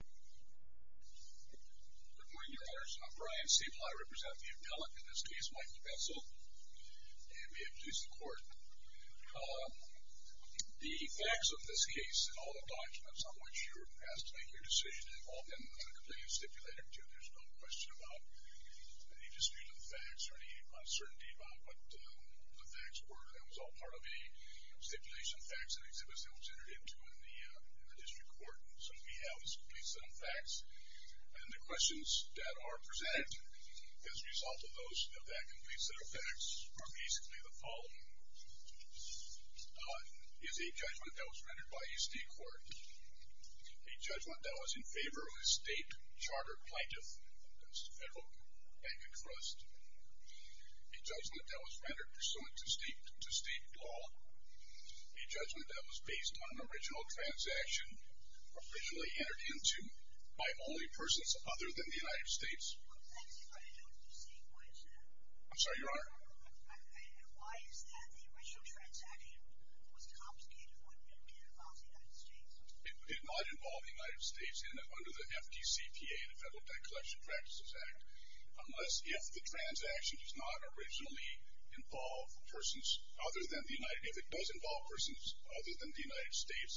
Good morning, your honors. I'm Brian Staple. I represent the appellate in this case, Michael Bensal. And we have police in court. The facts of this case and all the documents on which you were asked to make your decision involved in a completed stipulator, too. There's no question about any dispute of the facts or any uncertainty about what the facts were. That was all part of a stipulation, facts, and exhibits that was entered into in the district court. So we have this complete set of facts. And the questions that are presented as a result of those, of that complete set of facts, are basically the following. One is a judgment that was rendered by a state court. A judgment that was in favor of a state charter plaintiff. That's the Federal Bank and Trust. A judgment that was rendered pursuant to state law. A judgment that was based on an original transaction officially entered into by only persons other than the United States. I'm sorry, your honor? It did not involve the United States under the FDCPA, the Federal Debt Collection Practices Act, unless if the transaction does not originally involve persons other than the United States.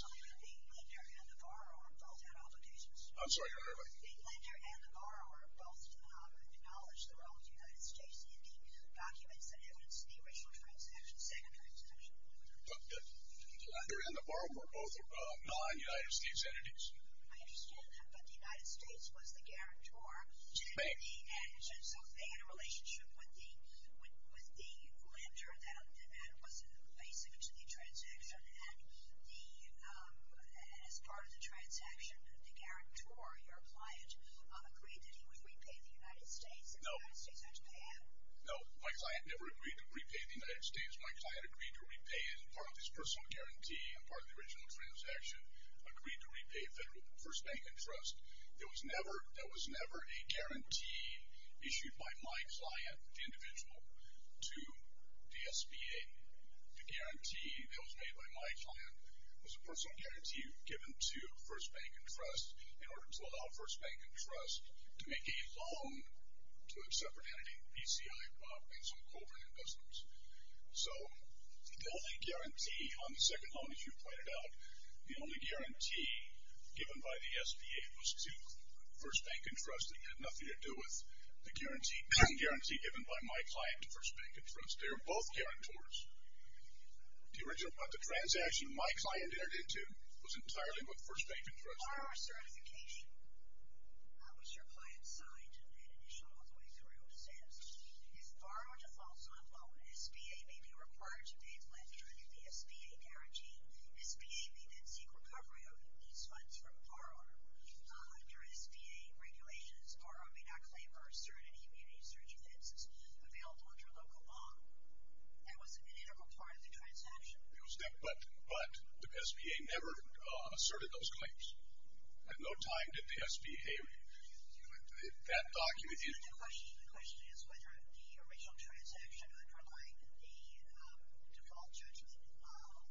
The lender and the borrower both had obligations. I'm sorry, your honor? The lender and the borrower both acknowledged the role of the United States in the documents that evidenced the original transaction, second transaction. But the lender and the borrower were both non-United States entities. I understand that. But the United States was the guarantor. Bank. So they had a relationship with the lender that was basic to the transaction. And as part of the transaction, the guarantor, your client, agreed that he would repay the United States. No. And the United States had to pay him. No. My client never agreed to repay the United States. My client agreed to repay him. And as part of this personal guarantee and part of the original transaction, agreed to repay First Bank and Trust. There was never a guarantee issued by my client, the individual, to the SBA. The guarantee that was made by my client was a personal guarantee given to First Bank and Trust in order to allow First Bank and Trust to make a loan to a separate entity, PCI, while paying some covert investments. So the only guarantee on the second loan, as you've pointed out, the only guarantee given by the SBA was to First Bank and Trust. It had nothing to do with the guarantee given by my client to First Bank and Trust. They were both guarantors. The transaction my client entered into was entirely with First Bank and Trust. Borrower certification. How was your client signed and made initial all the way through to status? If borrower defaults on a loan, SBA may be required to pay a pledge under the SBA guarantee. SBA may then seek recovery of these funds from borrower. Under SBA regulations, borrower may not claim or assert any immunity or defenses available under local law. That was an integral part of the transaction. But the SBA never asserted those claims. At no time did the SBA, that document, The question is whether the original transaction underlying the default judgment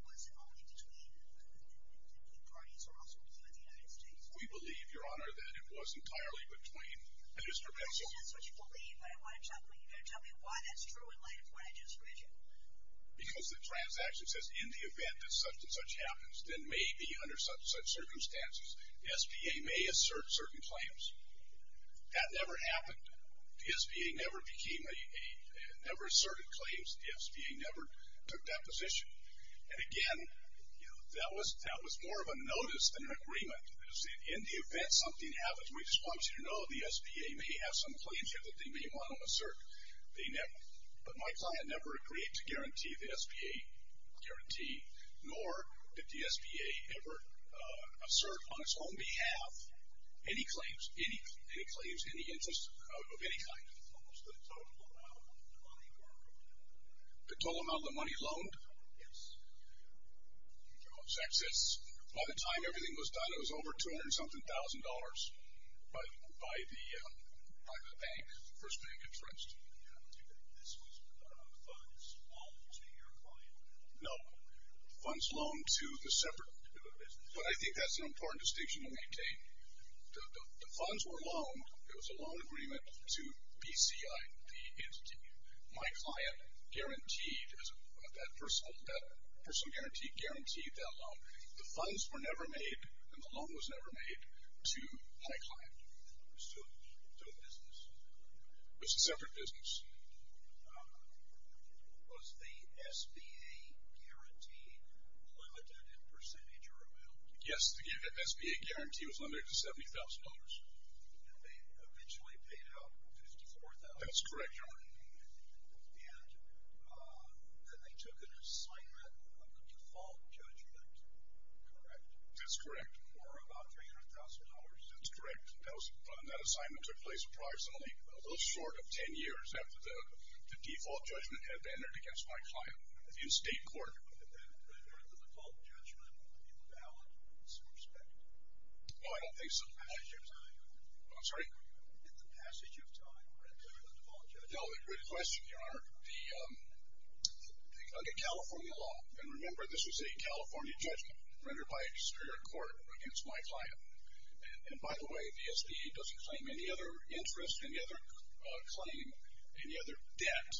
was only between the parties or also between the United States. We believe, Your Honor, that it was entirely between. That is perpetual. That's what you believe, but you've got to tell me why that's true in light of what I just read you. Because the transaction says, In the event that such and such happens, then may be under such circumstances, the SBA may assert certain claims. That never happened. The SBA never asserted claims. The SBA never took that position. And again, that was more of a notice than an agreement. In the event something happens, we just want you to know, the SBA may have some claims here that they may want to assert. But my client never agreed to guarantee the SBA guarantee, Any claims? Any claims? Any interest of any kind? The total amount of the money loaned. The total amount of the money loaned? Yes. Oh, that's it. By the time everything was done, it was over 200-something thousand dollars by the private bank, First Bank and Trust. Do you think this was funds loaned to your client? No. Funds loaned to the separate business. But I think that's an important distinction to maintain. The funds were loaned. It was a loan agreement to BCI, the entity. My client guaranteed, that personal guarantee guaranteed that loan. The funds were never made, and the loan was never made to my client. It was to a business. It was a separate business. Was the SBA guarantee limited in percentage or amount? Yes, the SBA guarantee was limited to $70,000. And they eventually paid out $54,000. That's correct, Your Honor. And then they took an assignment of default judgment. Correct. That's correct. For about $300,000. That's correct. And that assignment took place approximately a little short of ten years after the default judgment had been entered against my client in state court. Did that render the default judgment invalid in some respect? No, I don't think so. In the passage of time? I'm sorry? Did the passage of time render the default judgment invalid? No, good question, Your Honor. Under California law, and remember this was a California judgment, rendered by a Superior Court against my client. And, by the way, the SBA doesn't claim any other interest, any other claim, any other debt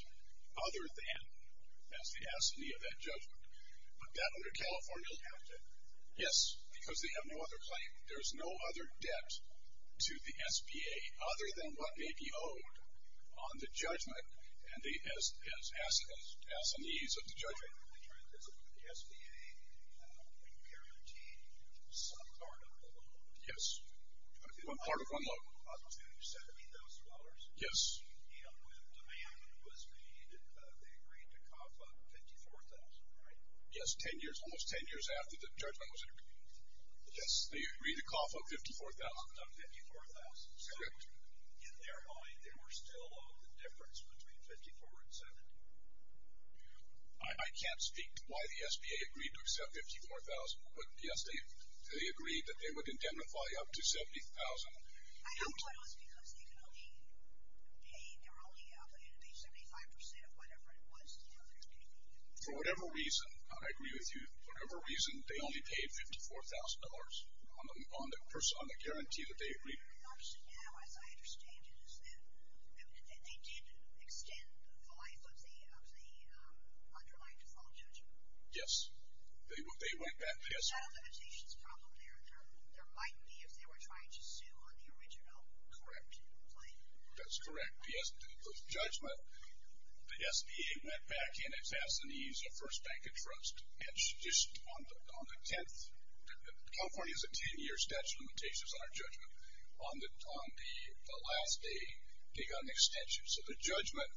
other than as the assignee of that judgment. But that under California law? Yes, because they have no other claim. There's no other debt to the SBA other than what may be owed on the judgment as assignees of the judgment. The SBA would guarantee some part of the loan? Yes, part of one loan. Up to $70,000? Yes. And when demand was made, they agreed to cough up $54,000, right? Yes, ten years, almost ten years after the judgment was entered. Yes, they agreed to cough up $54,000. $54,000. Correct. So, in their mind, they were still owed the difference between $54,000 and $70,000? I can't speak to why the SBA agreed to accept $54,000, but, yes, they agreed that they would indemnify up to $70,000. I don't know if it was because they could only pay, they were only allowed to pay 75% of whatever it was to the other SBA. For whatever reason, I agree with you, for whatever reason, they only paid $54,000 on the guarantee that they agreed. What I'm interested in now, as I understand it, is that they did extend the life of the underlying default judgment. Yes, they went back. Is that a limitations problem there? There might be if they were trying to sue on the original claim. Correct. That's correct. Yes, the judgment, the SBA went back and it passed the needs of First Bank of Trust, and just on the 10th, California has a 10-year statute of limitations on our judgment. On the last day, they got an extension, so the judgment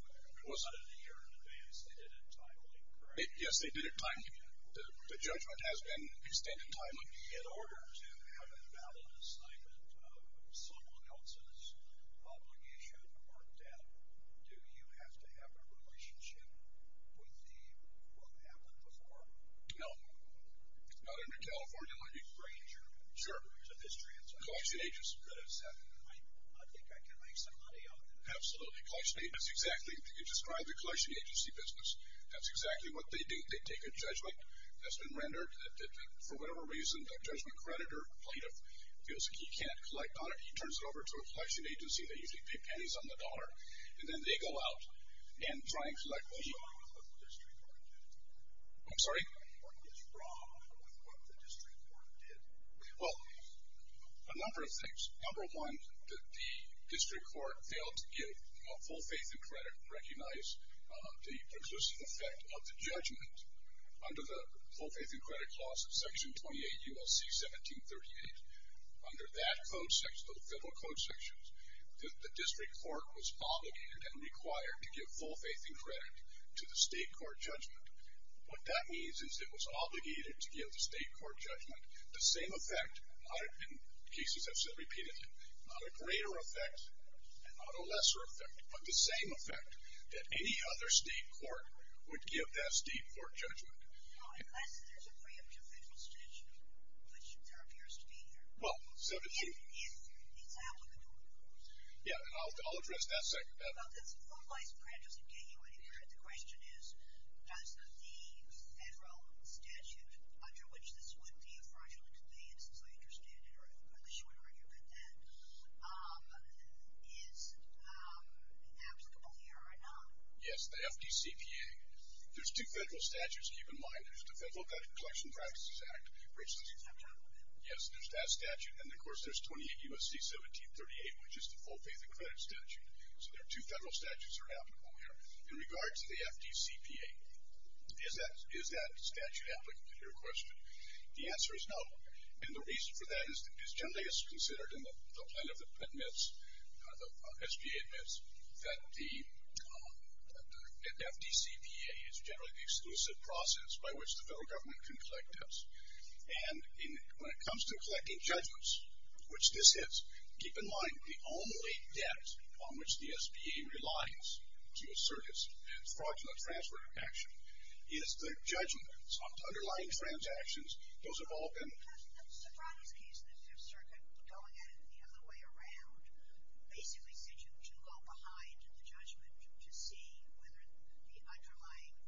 was. They did it a year in advance, they did it timely, correct? Yes, they did it timely. The judgment has been extended timely. In order to have a valid assignment of someone else's obligation or debt, do you have to have a relationship with the one who had one before? No, not under California. Sure. I think I can make some money on it. Absolutely. You described the collection agency business. That's exactly what they do. They take a judgment that's been rendered that for whatever reason, the judgment creditor, plaintiff, feels like he can't collect on it. He turns it over to a collection agency. They usually pay pennies on the dollar, and then they go out and try and collect. What's wrong with what the district court did? I'm sorry? What is wrong with what the district court did? Well, a number of things. Number one, the district court failed to give a full faith and credit, recognize the precluding effect of the judgment. Under the full faith and credit clause of Section 28 U.S.C. 1738, under that code section, those federal code sections, the district court was obligated and required to give full faith and credit to the state court judgment. What that means is it was obligated to give the state court judgment the same effect, and cases have said repeatedly, not a greater effect and not a lesser effect, but the same effect that any other state court would give that state court judgment. No, unless there's a preemptive federal statute, which there appears to be here. Well, so did you. If it's applicable. Yeah, and I'll address that second. Well, the full faith and credit doesn't get you anywhere. The question is, does the federal statute under which this would be a fraudulent convenience, as I understand it, or the short argument at that, is applicable here or not? Yes, the FDCPA. There's two federal statutes, keep in mind. There's the Federal Collection Practices Act, which is applicable. Yes, there's that statute. And, of course, there's 28 U.S.C. 1738, which is the full faith and credit statute. So there are two federal statutes that are applicable here. In regards to the FDCPA, is that statute applicable to your question? The answer is no. And the reason for that is generally it's considered in the plan admits, the SBA admits, that the FDCPA is generally the exclusive process by which the federal government can collect debts. And when it comes to collecting judgments, which this is, keep in mind, the only debt on which the SBA relies to assert its fraudulent transfer of action is the judgment. So underlying transactions, those have all been. Mr. Brownlee's case, the Fifth Circuit, going at it the other way around, basically said you can go behind the judgment to see whether the underlying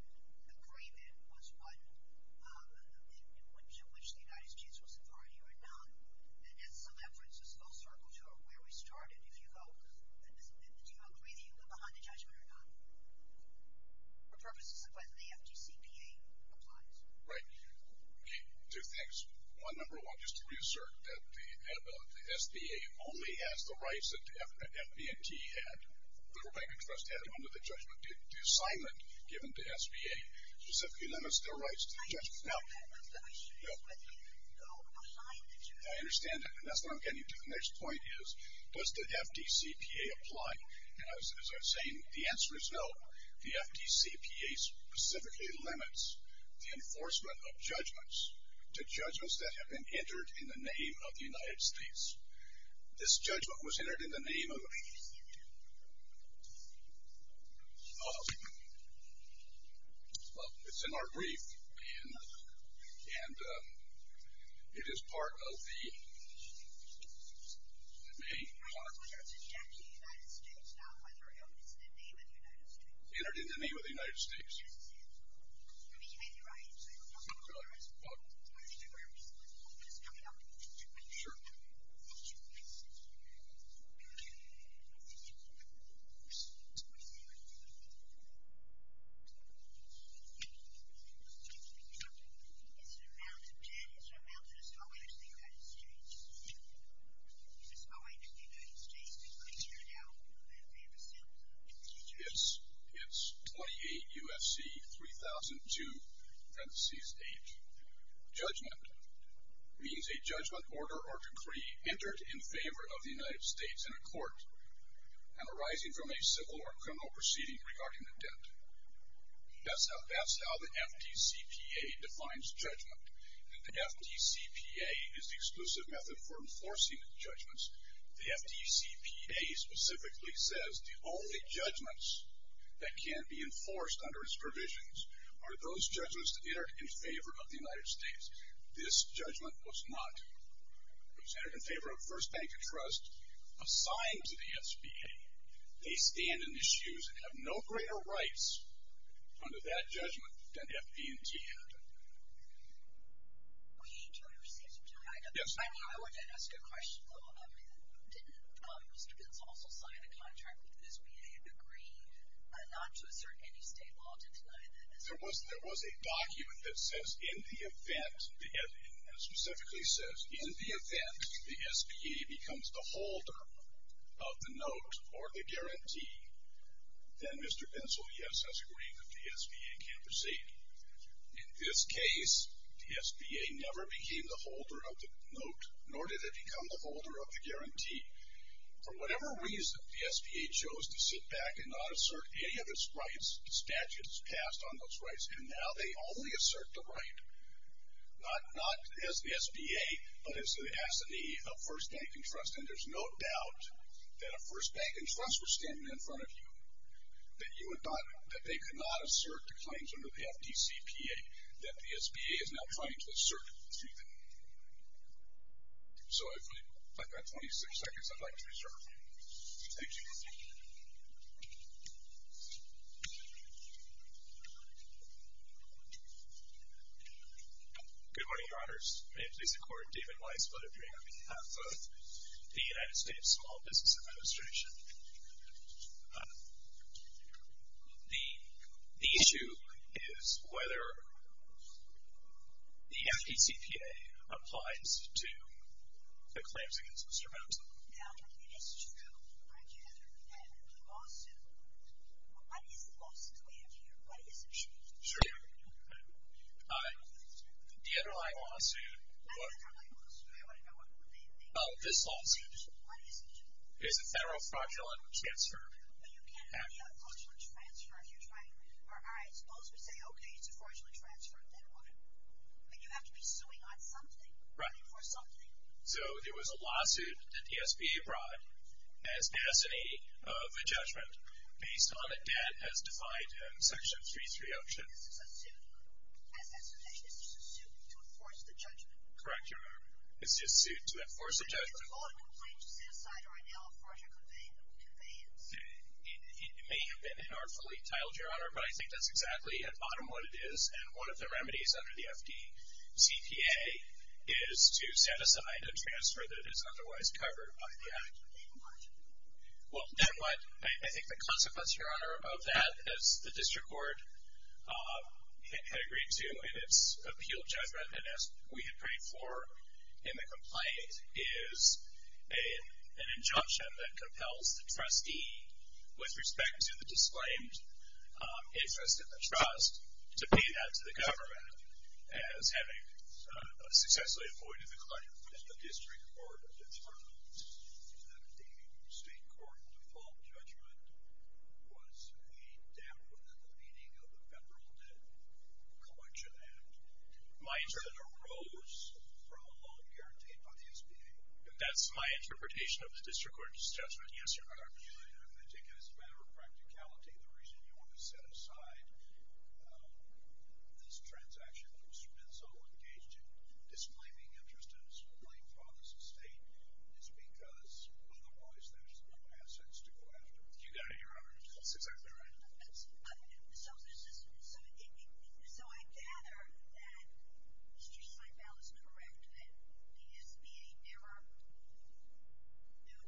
agreement was one to which the United States was authority or not. And so that brings us full circle to where we started. If you go, do you agree that you can go behind the judgment or not? For purposes of whether the FDCPA applies. Right. Okay. Two things. One, number one, just to reassert that the SBA only has the rights that the FD&T had, the Federal Banking Trust had under the judgment, the assignment given to SBA specifically limits their rights to the judgment. Now, I understand that and that's what I'm getting to. The next point is, does the FDCPA apply? As I was saying, the answer is no. The FDCPA specifically limits the enforcement of judgments to judgments that have been entered in the name of the United States. This judgment was entered in the name of the United States. Well, it's in our brief, and it is part of the main part. It was entered in the name of the United States. It was entered in the name of the United States. It's 28 U.S.C. 3002, parenthesis 8. Judgment means a judgment order or decree entered in favor of the United States in a court and arising from a civil or criminal proceeding regarding the debt. That's how the FDCPA defines judgment. The FDCPA is the exclusive method for enforcing judgments. The FDCPA specifically says the only judgments that can be enforced under its provisions are those judgments that are in favor of the United States. This judgment was not. It was entered in favor of First Bank of Trust. Assigned to the SBA, they stand in issues and have no greater rights under that judgment than FD&T had. We do receive some time. Yes. I mean, I wanted to ask a question, though. Did Mr. Benzel also sign a contract with the SBA and agree not to assert any state law to deny that? There was a document that says, in the event, and it specifically says, in the event the SBA becomes the holder of the note or the guarantee, then Mr. Benzel, yes, has agreed that the SBA can proceed. In this case, the SBA never became the holder of the note, nor did it become the holder of the guarantee. For whatever reason, the SBA chose to sit back and not assert any of its rights, statutes passed on those rights. And now they only assert the right, not as the SBA, but as the assignee of First Bank and Trust. And there's no doubt that if First Bank and Trust were standing in front of you, that they could not assert the claims under the FDCPA that the SBA is now trying to assert through them. So I've got 26 seconds I'd like to reserve. Thank you. Good morning, Your Honors. May it please the Court, David Weiss, vote of agreement on behalf of the United States Small Business Administration. The issue is whether the FDCPA applies to the claims against Mr. Benzel. Now, it is true. Aren't you going to defend the lawsuit? What is the lawsuit's land here? What is it? Sure. The underlying lawsuit is a federal fraudulent transfer. But you can't have a fraudulent transfer if you're trying to, all right, suppose we say, okay, it's a fraudulent transfer. Then what? But you have to be suing on something. Right. So there was a lawsuit that the SBA brought as assignee of a judgment based on a debt as defined in Section 3.3. Is this a suit? As an association, is this a suit to enforce the judgment? Correct, Your Honor. It's a suit to enforce a judgment. Is it a law complaint to set aside or annul a fraudulent conveyance? It may have been inartfully titled, Your Honor, but I think that's exactly at bottom what it is. And one of the remedies under the FDCPA is to set aside a transfer that is otherwise covered by the act. Then what? Then what? I think the consequence, Your Honor, of that, as the district court had agreed to in its appeal judgment, and as we had prayed for in the complaint, is an injunction that compels the trustee, with respect to the disclaimed interest in the trust, to pay that to the government as having successfully avoided the claim What does the district court determine? That the state court default judgment was a damp within the meaning of the Federal Debt Collection Act. My interpretation. And arose from a loan guaranteed by the SBA. That's my interpretation of the district court's judgment. Yes, Your Honor. I take it as a matter of practicality the reason you want to set aside this state is because otherwise there's no assets to go after. You got it, Your Honor. That's exactly right. So I gather that Mr. Seibel is correct that the SBA never knew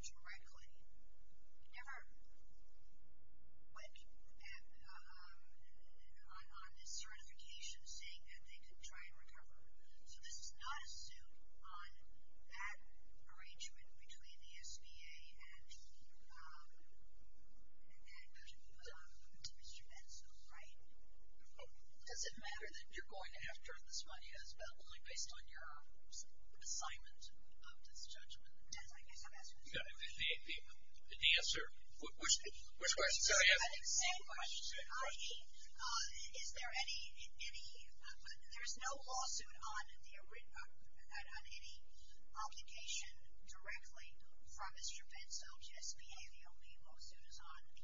directly, never went on this certification saying that they could try and recover. So this is not a suit on that arrangement between the SBA and Mr. Metz, right? Does it matter that you're going after this money as well, only based on your assignment of this judgment? Yes, I guess I'm asking. The answer, which question? I have the same question, i.e., is there any, there's no lawsuit on any obligation directly from Mr. Metz, so just behaviorally lawsuits on the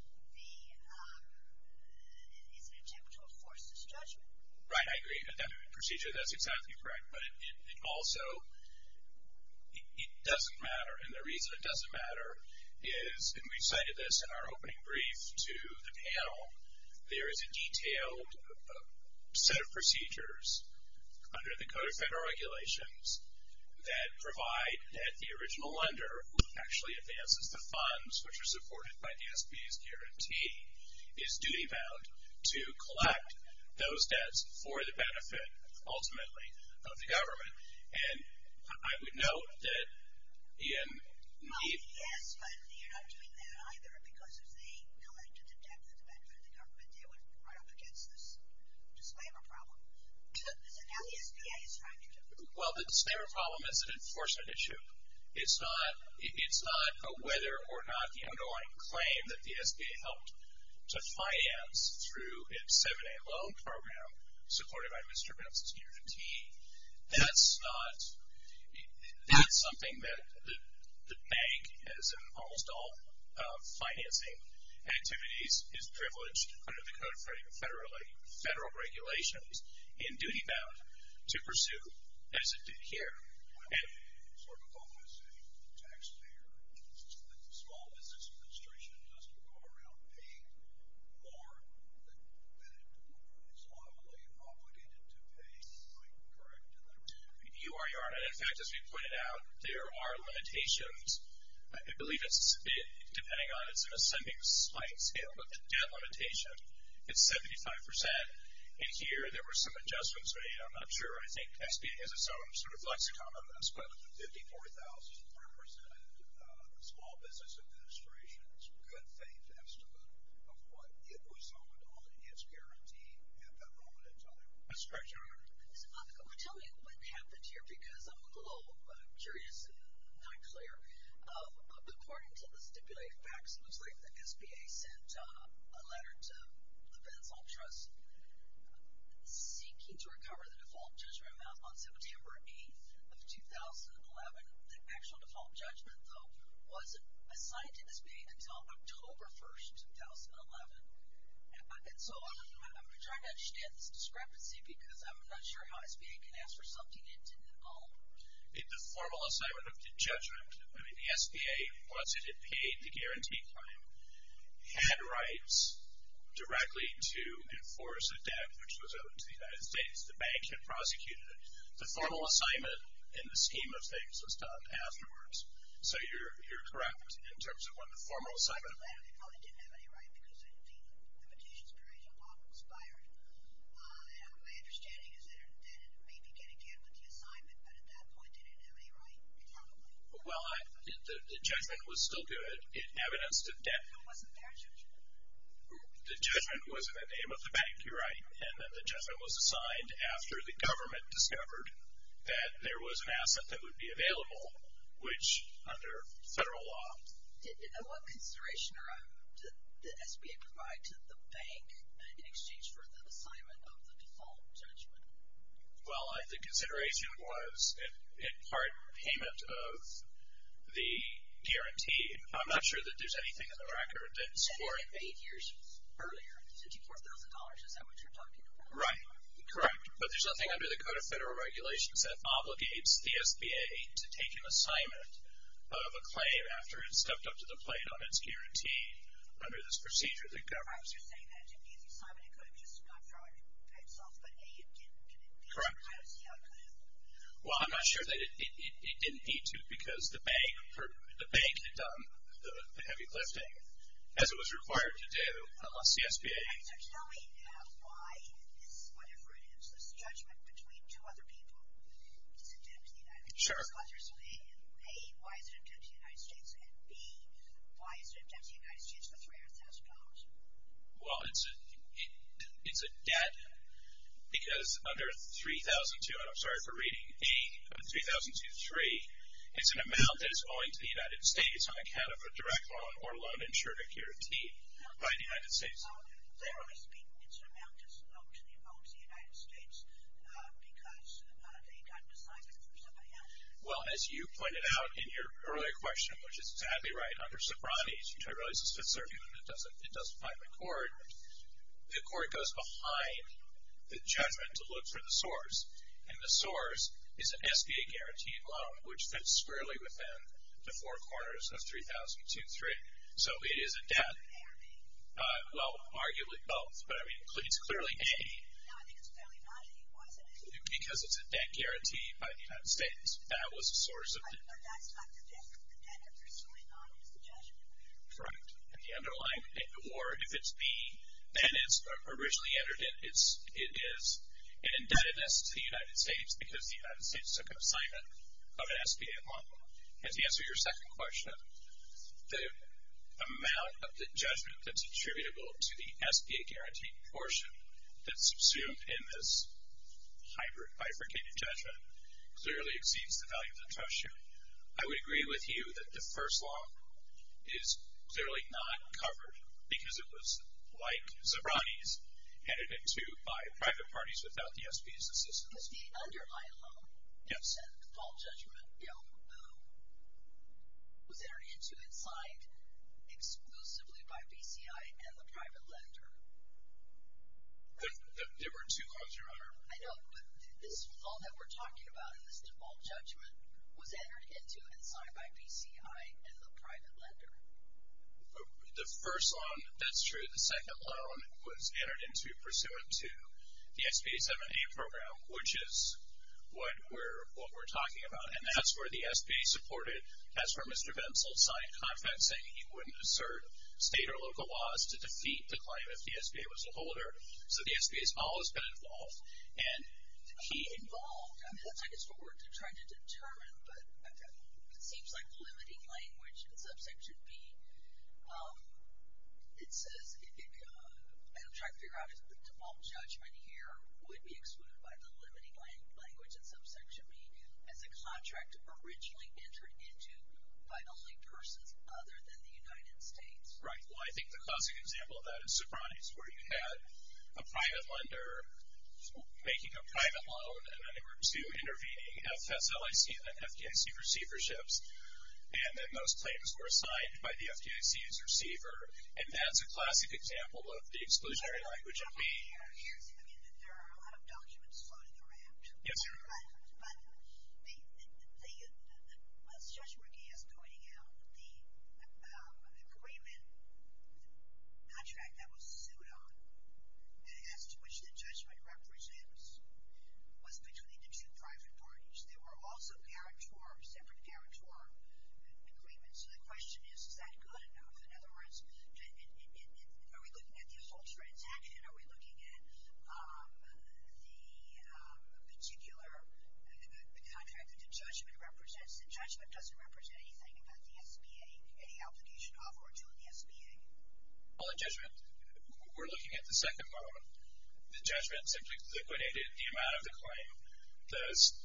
attempt to enforce this judgment. Right, I agree with that procedure. That's exactly correct. But it also, it doesn't matter. And the reason it doesn't matter is, and we cited this in our opening brief to the panel, there is a detailed set of procedures under the Code of Federal Regulations that provide that the original lender, who actually advances the funds, which are supported by the SBA's guarantee, is duty-bound to collect those debts for the benefit, ultimately, of the government. And I would note that in the... Yes, but you're not doing that either because if they collected the debt for the benefit of the government, they would run up against this disclaimer problem. Is that how the SBA is trying to do it? Well, the disclaimer problem is an enforcement issue. It's not a whether or not, you know, going to claim that the SBA helped to finance through its 7A loan program, supported by Mr. Metz's guarantee. That's not... That's something that the bank, as in almost all financing activities, is privileged under the Code of Federal Regulations, and duty-bound to pursue as it did here. It's sort of almost a taxpayer. The Small Business Administration doesn't go around paying more than it is automatically obligated to pay. Am I correct in that regard? You are, you are. And, in fact, as we pointed out, there are limitations. I believe it's, depending on... It's an ascending slight scale, but the debt limitation is 75%. And here, there were some adjustments. I'm not sure. I think SBA has its own sort of lexicon of this, but 54,000 represented the Small Business Administration's good faith estimate of what it was holding on its guarantee at that moment in time. That's correct, Your Honor. I'm going to tell you what happened here because I'm a little curious and not clear. According to the stipulated facts, it looks like the SBA sent a letter to the Benson Trust seeking to recover the default judgment amount on September 8th of 2011. The actual default judgment, though, wasn't assigned to the SBA until October 1st, 2011. And so I'm going to try to understand this discrepancy because I'm not sure how SBA can ask for something it didn't own. In the formal assignment of the judgment, I mean, the SBA, once it had paid the guarantee claim, had rights directly to enforce a debt which was owed to the United States. The bank had prosecuted it. The formal assignment, in the scheme of things, was done afterwards. So you're correct in terms of when the formal assignment of that. It probably didn't have any right because, indeed, the limitations period was not expired. My understanding is that it may begin again with the assignment, but at that point, it didn't have any right, probably. Well, the judgment was still good. It evidenced a debt. It wasn't their judgment. The judgment was in the name of the bank, you're right. And then the judgment was assigned after the government discovered that there was an asset that would be available, which, under federal law. And what consideration did SBA provide to the bank in exchange for the assignment of the default judgment? Well, I think consideration was, in part, payment of the guarantee. I'm not sure that there's anything in the record that's for it. Eight years earlier, $54,000, is that what you're talking about? Right. Correct. But there's nothing under the Code of Federal Regulations that obligates the SBA to take an assignment of a claim after it stepped up to the plate on its guarantee under this procedure that governs it. I was just saying that it's an easy assignment. It could have just not drawn itself, but, A, it didn't commit these crimes. Correct. Yeah, it could have. Well, I'm not sure that it didn't need to because the bank had done the heavy lifting, as it was required to do, on CSBA. So tell me now why this, whatever it is, this judgment between two other people is an attempt to the United States. Sure. So, A, why is it an attempt to the United States? And, B, why is it an attempt to the United States for $300,000? Well, it's a debt because under 3002, and I'm sorry for reading, A, under 3002.3, it's an amount that is owing to the United States on account of a direct loan or loan insured or guaranteed by the United States. So, generally speaking, it's an amount that's owed to the United States because they got it decided for somebody else. Well, as you pointed out in your earlier question, which is sadly right, under Sobranes, which I realize is Fifth Circuit and it doesn't bind the court, the court goes behind the judgment to look for the source. And the source is an SBA-guaranteed loan, which fits squarely within the four corners of 3002.3. So it is a debt. Well, arguably both, but I mean, it's clearly A. No, I think it's clearly not A. Why is it A? Because it's a debt guaranteed by the United States. That was the source of the debt. But that's not the debt. The debt you're pursuing on is the judgment. Correct. And the underlying debt. Or if it's B, then it's originally entered in. It is an indebtedness to the United States because the United States took assignment of an SBA loan. And to answer your second question, the amount of the judgment that's assumed in this hybrid bifurcated judgment clearly exceeds the value of the trust sheet. I would agree with you that the first law is clearly not covered because it was, like Sobranes, headed into by private parties without the SBA's assistance. But the underlying loan, you said, the default judgment bill, was entered into and signed exclusively by BCI and the private lender. There were two clauses, Your Honor. I know. But all that we're talking about in this default judgment was entered into and signed by BCI and the private lender. The first loan, that's true. The second loan was entered into pursuant to the SBA 7A program, which is what we're talking about. And that's where the SBA supported. That's where Mr. Bensel signed a contract saying he wouldn't assert state or local laws to defeat the claim if the SBA was to hold her. So the SBA has always been involved. And he involved. I mean, it looks like it's for work to try to determine. But it seems like the limiting language in subsection B, it says, and I'm trying to figure out if the default judgment here would be excluded by the limiting language in subsection B as a contract originally entered into by only persons other than the United States. Right. Well, I think the classic example of that is Socrates, where you had a private lender making a private loan, and then they were to intervening FSLIC and FKIC receiverships. And then those claims were assigned by the FKIC's receiver. And that's a classic example of the exclusionary language in B. There are a lot of documents floating around. Yes, sir. But the less judgment he is pointing out, the agreement contract that was sued on and as to which the judgment represents was between the two private parties. There were also separate guarantor agreements. So the question is, is that good enough? In other words, are we looking at the assaults transaction? Are we looking at the particular contract that the judgment represents? The judgment doesn't represent anything about the SBA, any application of or to the SBA. Well, the judgment, we're looking at the second loan. The judgment simply liquidated the amount of the claim.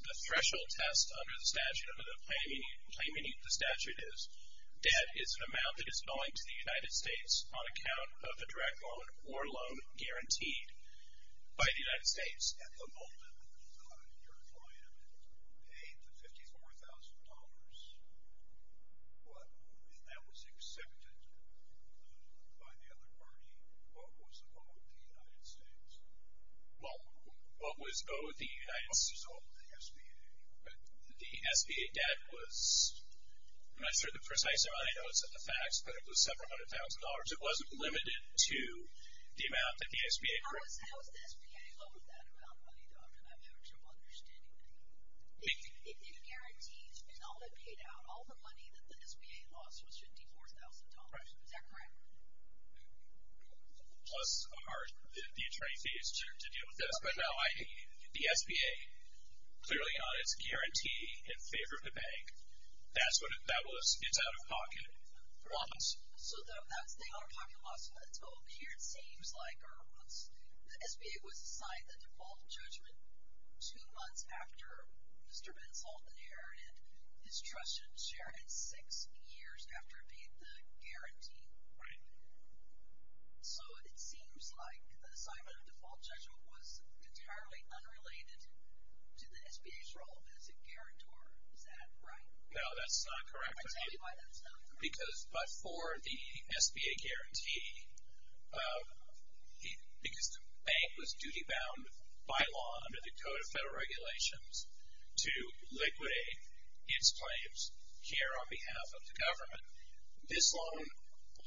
The threshold test under the statute, under the claim beneath the statute, is debt is an amount that is going to the United States on account of a direct loan or loan guaranteed by the United States. At the moment, your client paid the $54,000. If that was accepted by the other party, what was owed the United States? What was owed the United States? What was owed the SBA? The SBA debt was, I'm not sure the precise amount. I know it's in the facts, but it was several hundred thousand dollars. It wasn't limited to the amount that the SBA. How does the SBA load that amount of money, Doctor? I'm not sure I'm understanding that. It guarantees, and all that paid out, all the money that the SBA lost was $54,000. Is that correct? Plus the attorney fees to deal with this. But no, the SBA, clearly on its guarantee in favor of the bank, that's what it was. It's out of pocket once. So the out-of-pocket loss of that's over here, it seems like. The SBA was assigned the default judgment two months after Mr. Benson inherited. His trust should share it six years after it paid the guarantee. Right. So it seems like the assignment of default judgment was entirely unrelated to the SBA's role as a guarantor. Is that right? No, that's not correct. I'll tell you why that's not correct. Because before the SBA guarantee, because the bank was duty-bound by law under the Code of Federal Regulations to liquidate its claims here on behalf of the government, this loan,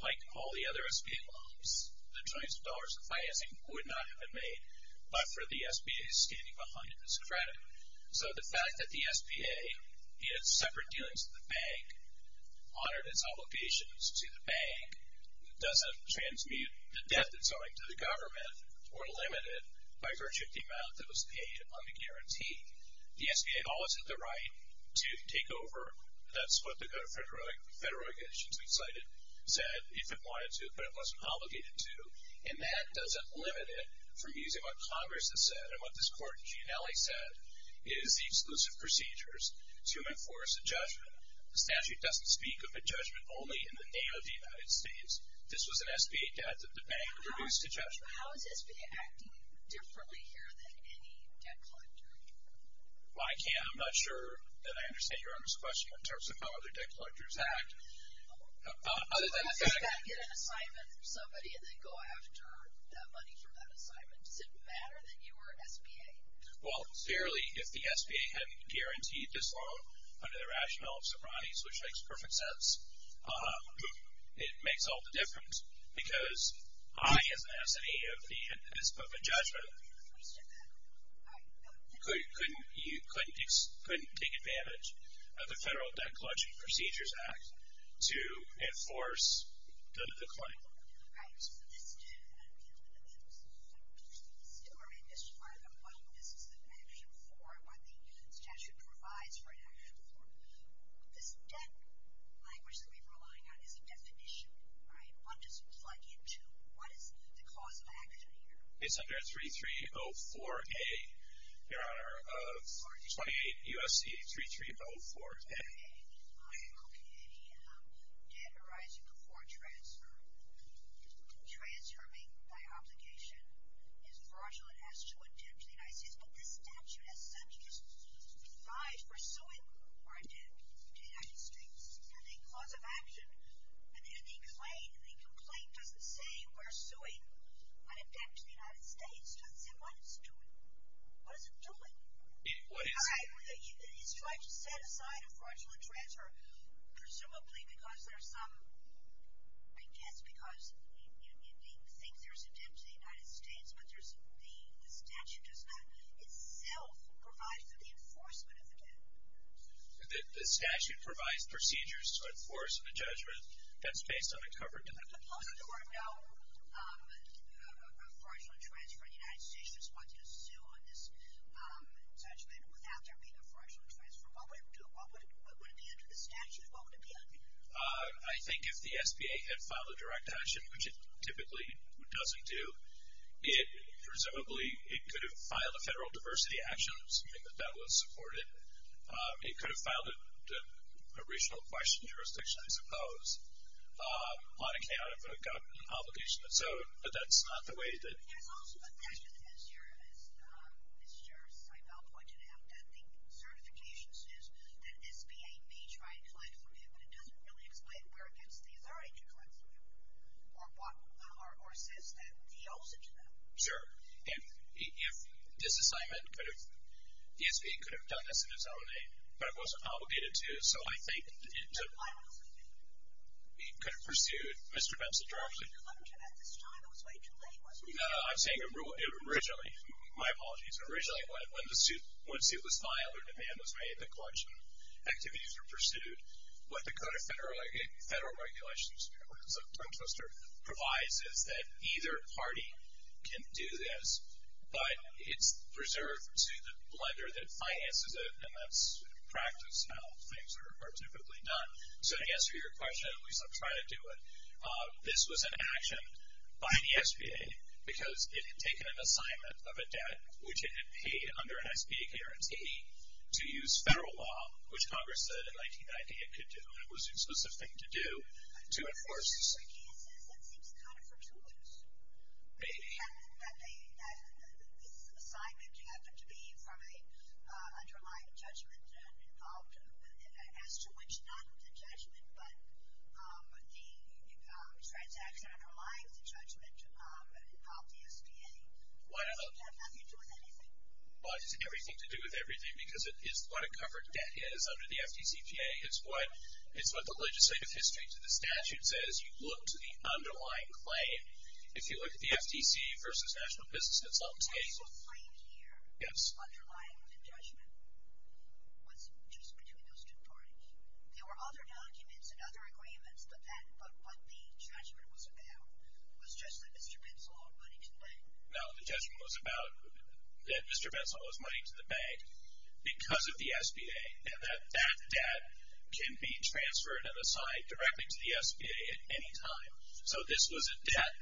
like all the other SBA loans, the trillions of dollars in financing, would not have been made but for the SBA standing behind in its credit. So the fact that the SBA, in its separate dealings with the bank, honored its obligations to the bank doesn't transmute the debt that's owing to the government or limit it by virtue of the amount that was paid on the guarantee. The SBA always had the right to take over. That's what the Code of Federal Regulations we cited said, if it wanted to, but it wasn't obligated to. And that doesn't limit it from using what Congress has said and what this Court in Gianelli said is the exclusive procedures to enforce a judgment. The statute doesn't speak of a judgment only in the name of the United States. This was an SBA debt that the bank reduced to judgment. How is SBA acting differently here than any debt collector? Well, I can't. I'm not sure that I understand Your Honor's question in terms of how other debt collectors act. I've got to get an assignment from somebody and then go after that money from that assignment. Does it matter that you were SBA? Well, clearly, if the SBA hadn't guaranteed this loan under the rationale of Sobranes, which makes perfect sense, it makes all the difference because I, as an SBA, at the end of this book of judgment, couldn't take advantage of the Federal Debt Collection Procedures Act. to enforce the claim. All right. So let's do a little bit of a story and describe what this is an action for and what the statute provides for an action for. This debt language that we've relied on is a definition, right? What does it plug into? What is the cause of action here? It's under 3304A, Your Honor, of 28 U.S.C. 3304A. Okay. Okay. A debt arising before transfer. Transferring by obligation is fraudulent as to a debt to the United States. But this statute, as such, provides for suing or a debt to the United States. And the cause of action and the claim, the complaint, doesn't say we're suing a debt to the United States. It doesn't say what it's doing. What is it doing? All right. It's trying to set aside a fraudulent transfer, presumably because there's some, I guess because it thinks there's a debt to the United States, but the statute does not itself provide for the enforcement of the debt. The statute provides procedures to enforce a judgment that's based on a covered debt. Suppose there were no fraudulent transfer and the United States just wanted to sue on this judgment without there being a fraudulent transfer. What would it do? Would it be under the statute? What would it be under? I think if the SBA had filed a direct action, which it typically doesn't do, presumably it could have filed a federal diversity action, something that that would support it. It could have filed a regional question jurisdiction, I suppose. Monica, I don't know if it would have gotten an obligation of its own, but that's not the way that. There's also the fact that, as Mr. Seibel pointed out, that the certification says that SBA may try and collect from him, but it doesn't really explain where it gets the authority to collect from him or says that he owes it to them. Sure. If this assignment could have, the SBA could have done this in its own name, but it wasn't obligated to. So I think it could have pursued Mr. Benson directly. I'm saying originally, my apologies, originally when the suit was filed or demand was made, the collection activities were pursued. What the Code of Federal Regulations provides is that either party can do this, but it's reserved to the lender that finances it, and that's practice how things are typically done. So to answer your question, at least I'll try to do it, this was an action by the SBA because it had taken an assignment of a debt, which it had paid under an SBA guarantee, to use federal law, which Congress said in 1990 it could do and it was a specific thing to do, to enforce. In some cases, it seems kind of fortuitous. Maybe. That this assignment happened to be from an underlying judgment as to which, not the judgment, but the transaction underlying the judgment of the SBA. Why does it have nothing to do with anything? Why does it have everything to do with everything? Because it is what a covered debt is under the FDCPA. It's what the legislative history to the statute says. You look to the underlying claim. If you look at the FDC versus National Business, that's not the same. The claim here underlying the judgment was just between those two parties. There were other documents and other agreements, but what the judgment was about was just that Mr. Bensal owed money to the bank. No, the judgment was about that Mr. Bensal owes money to the bank because of the SBA, and that that debt can be transferred and assigned directly to the SBA at any time. So this was a debt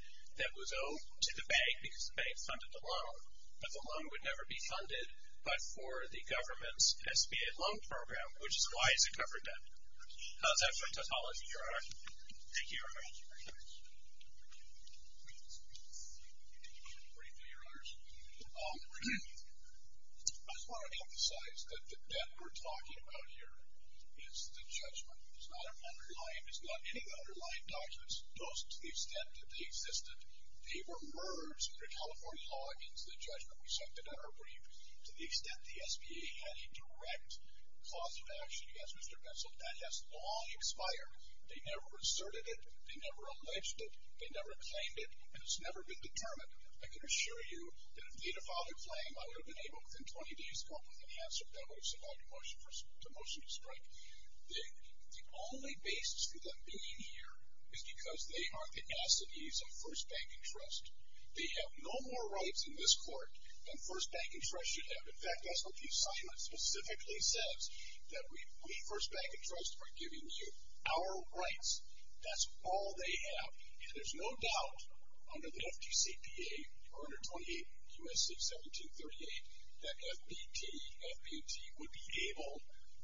that was owed to the bank because the bank funded the loan, but the loan would never be funded but for the government's SBA loan program, which is why it's a covered debt. That's my topology, Your Honor. Thank you, Your Honor. Briefly, Your Honors. I just want to emphasize that the debt we're talking about here is the judgment. It's not an underlying. It's not any of the underlying documents. To the extent that they existed, they were merged under California law into the judgment we cited in our brief. To the extent the SBA had a direct cause of action against Mr. Bensal, that has long expired. They never inserted it. They never alleged it. They never claimed it, and it's never been determined. I can assure you that if they'd have filed their claim, I would have been able within 20 days to go up with an answer that would have allowed the motion to strike. The only basis for them being here is because they are the assidues of First Bank and Trust. They have no more rights in this court than First Bank and Trust should have. In fact, that's what the assignment specifically says, that we, First Bank and Trust, are giving you our rights. That's all they have. And there's no doubt under the FTCPA, 128 U.S.C. 1738, that FBT, FBT would be able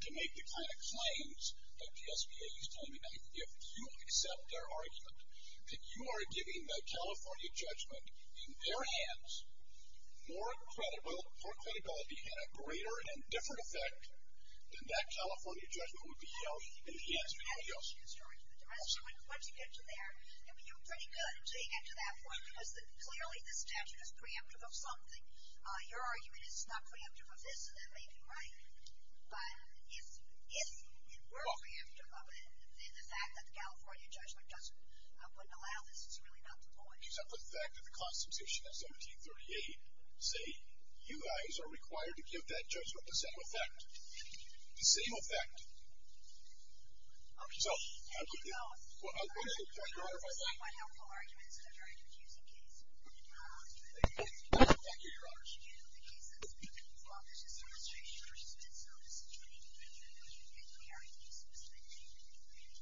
to make the kind of claims that the SBA is claiming. If you accept their argument, that you are giving the California judgment in their hands, more credibility and a greater and different effect than that California judgment would be held in the hands of anybody else. Once you get to there, you're pretty good until you get to that point, because clearly the statute is preemptive of something. Your argument is it's not preemptive of this, and that may be right. But if it were preemptive of it, then the fact that the California judgment wouldn't allow this is really not the point. Except for the fact that the Constitution of 1738 say, you guys are required to give that judgment the same effect. The same effect. So, thank you. Thank you, Your Honors. Thank you. Thank you, Your Honors.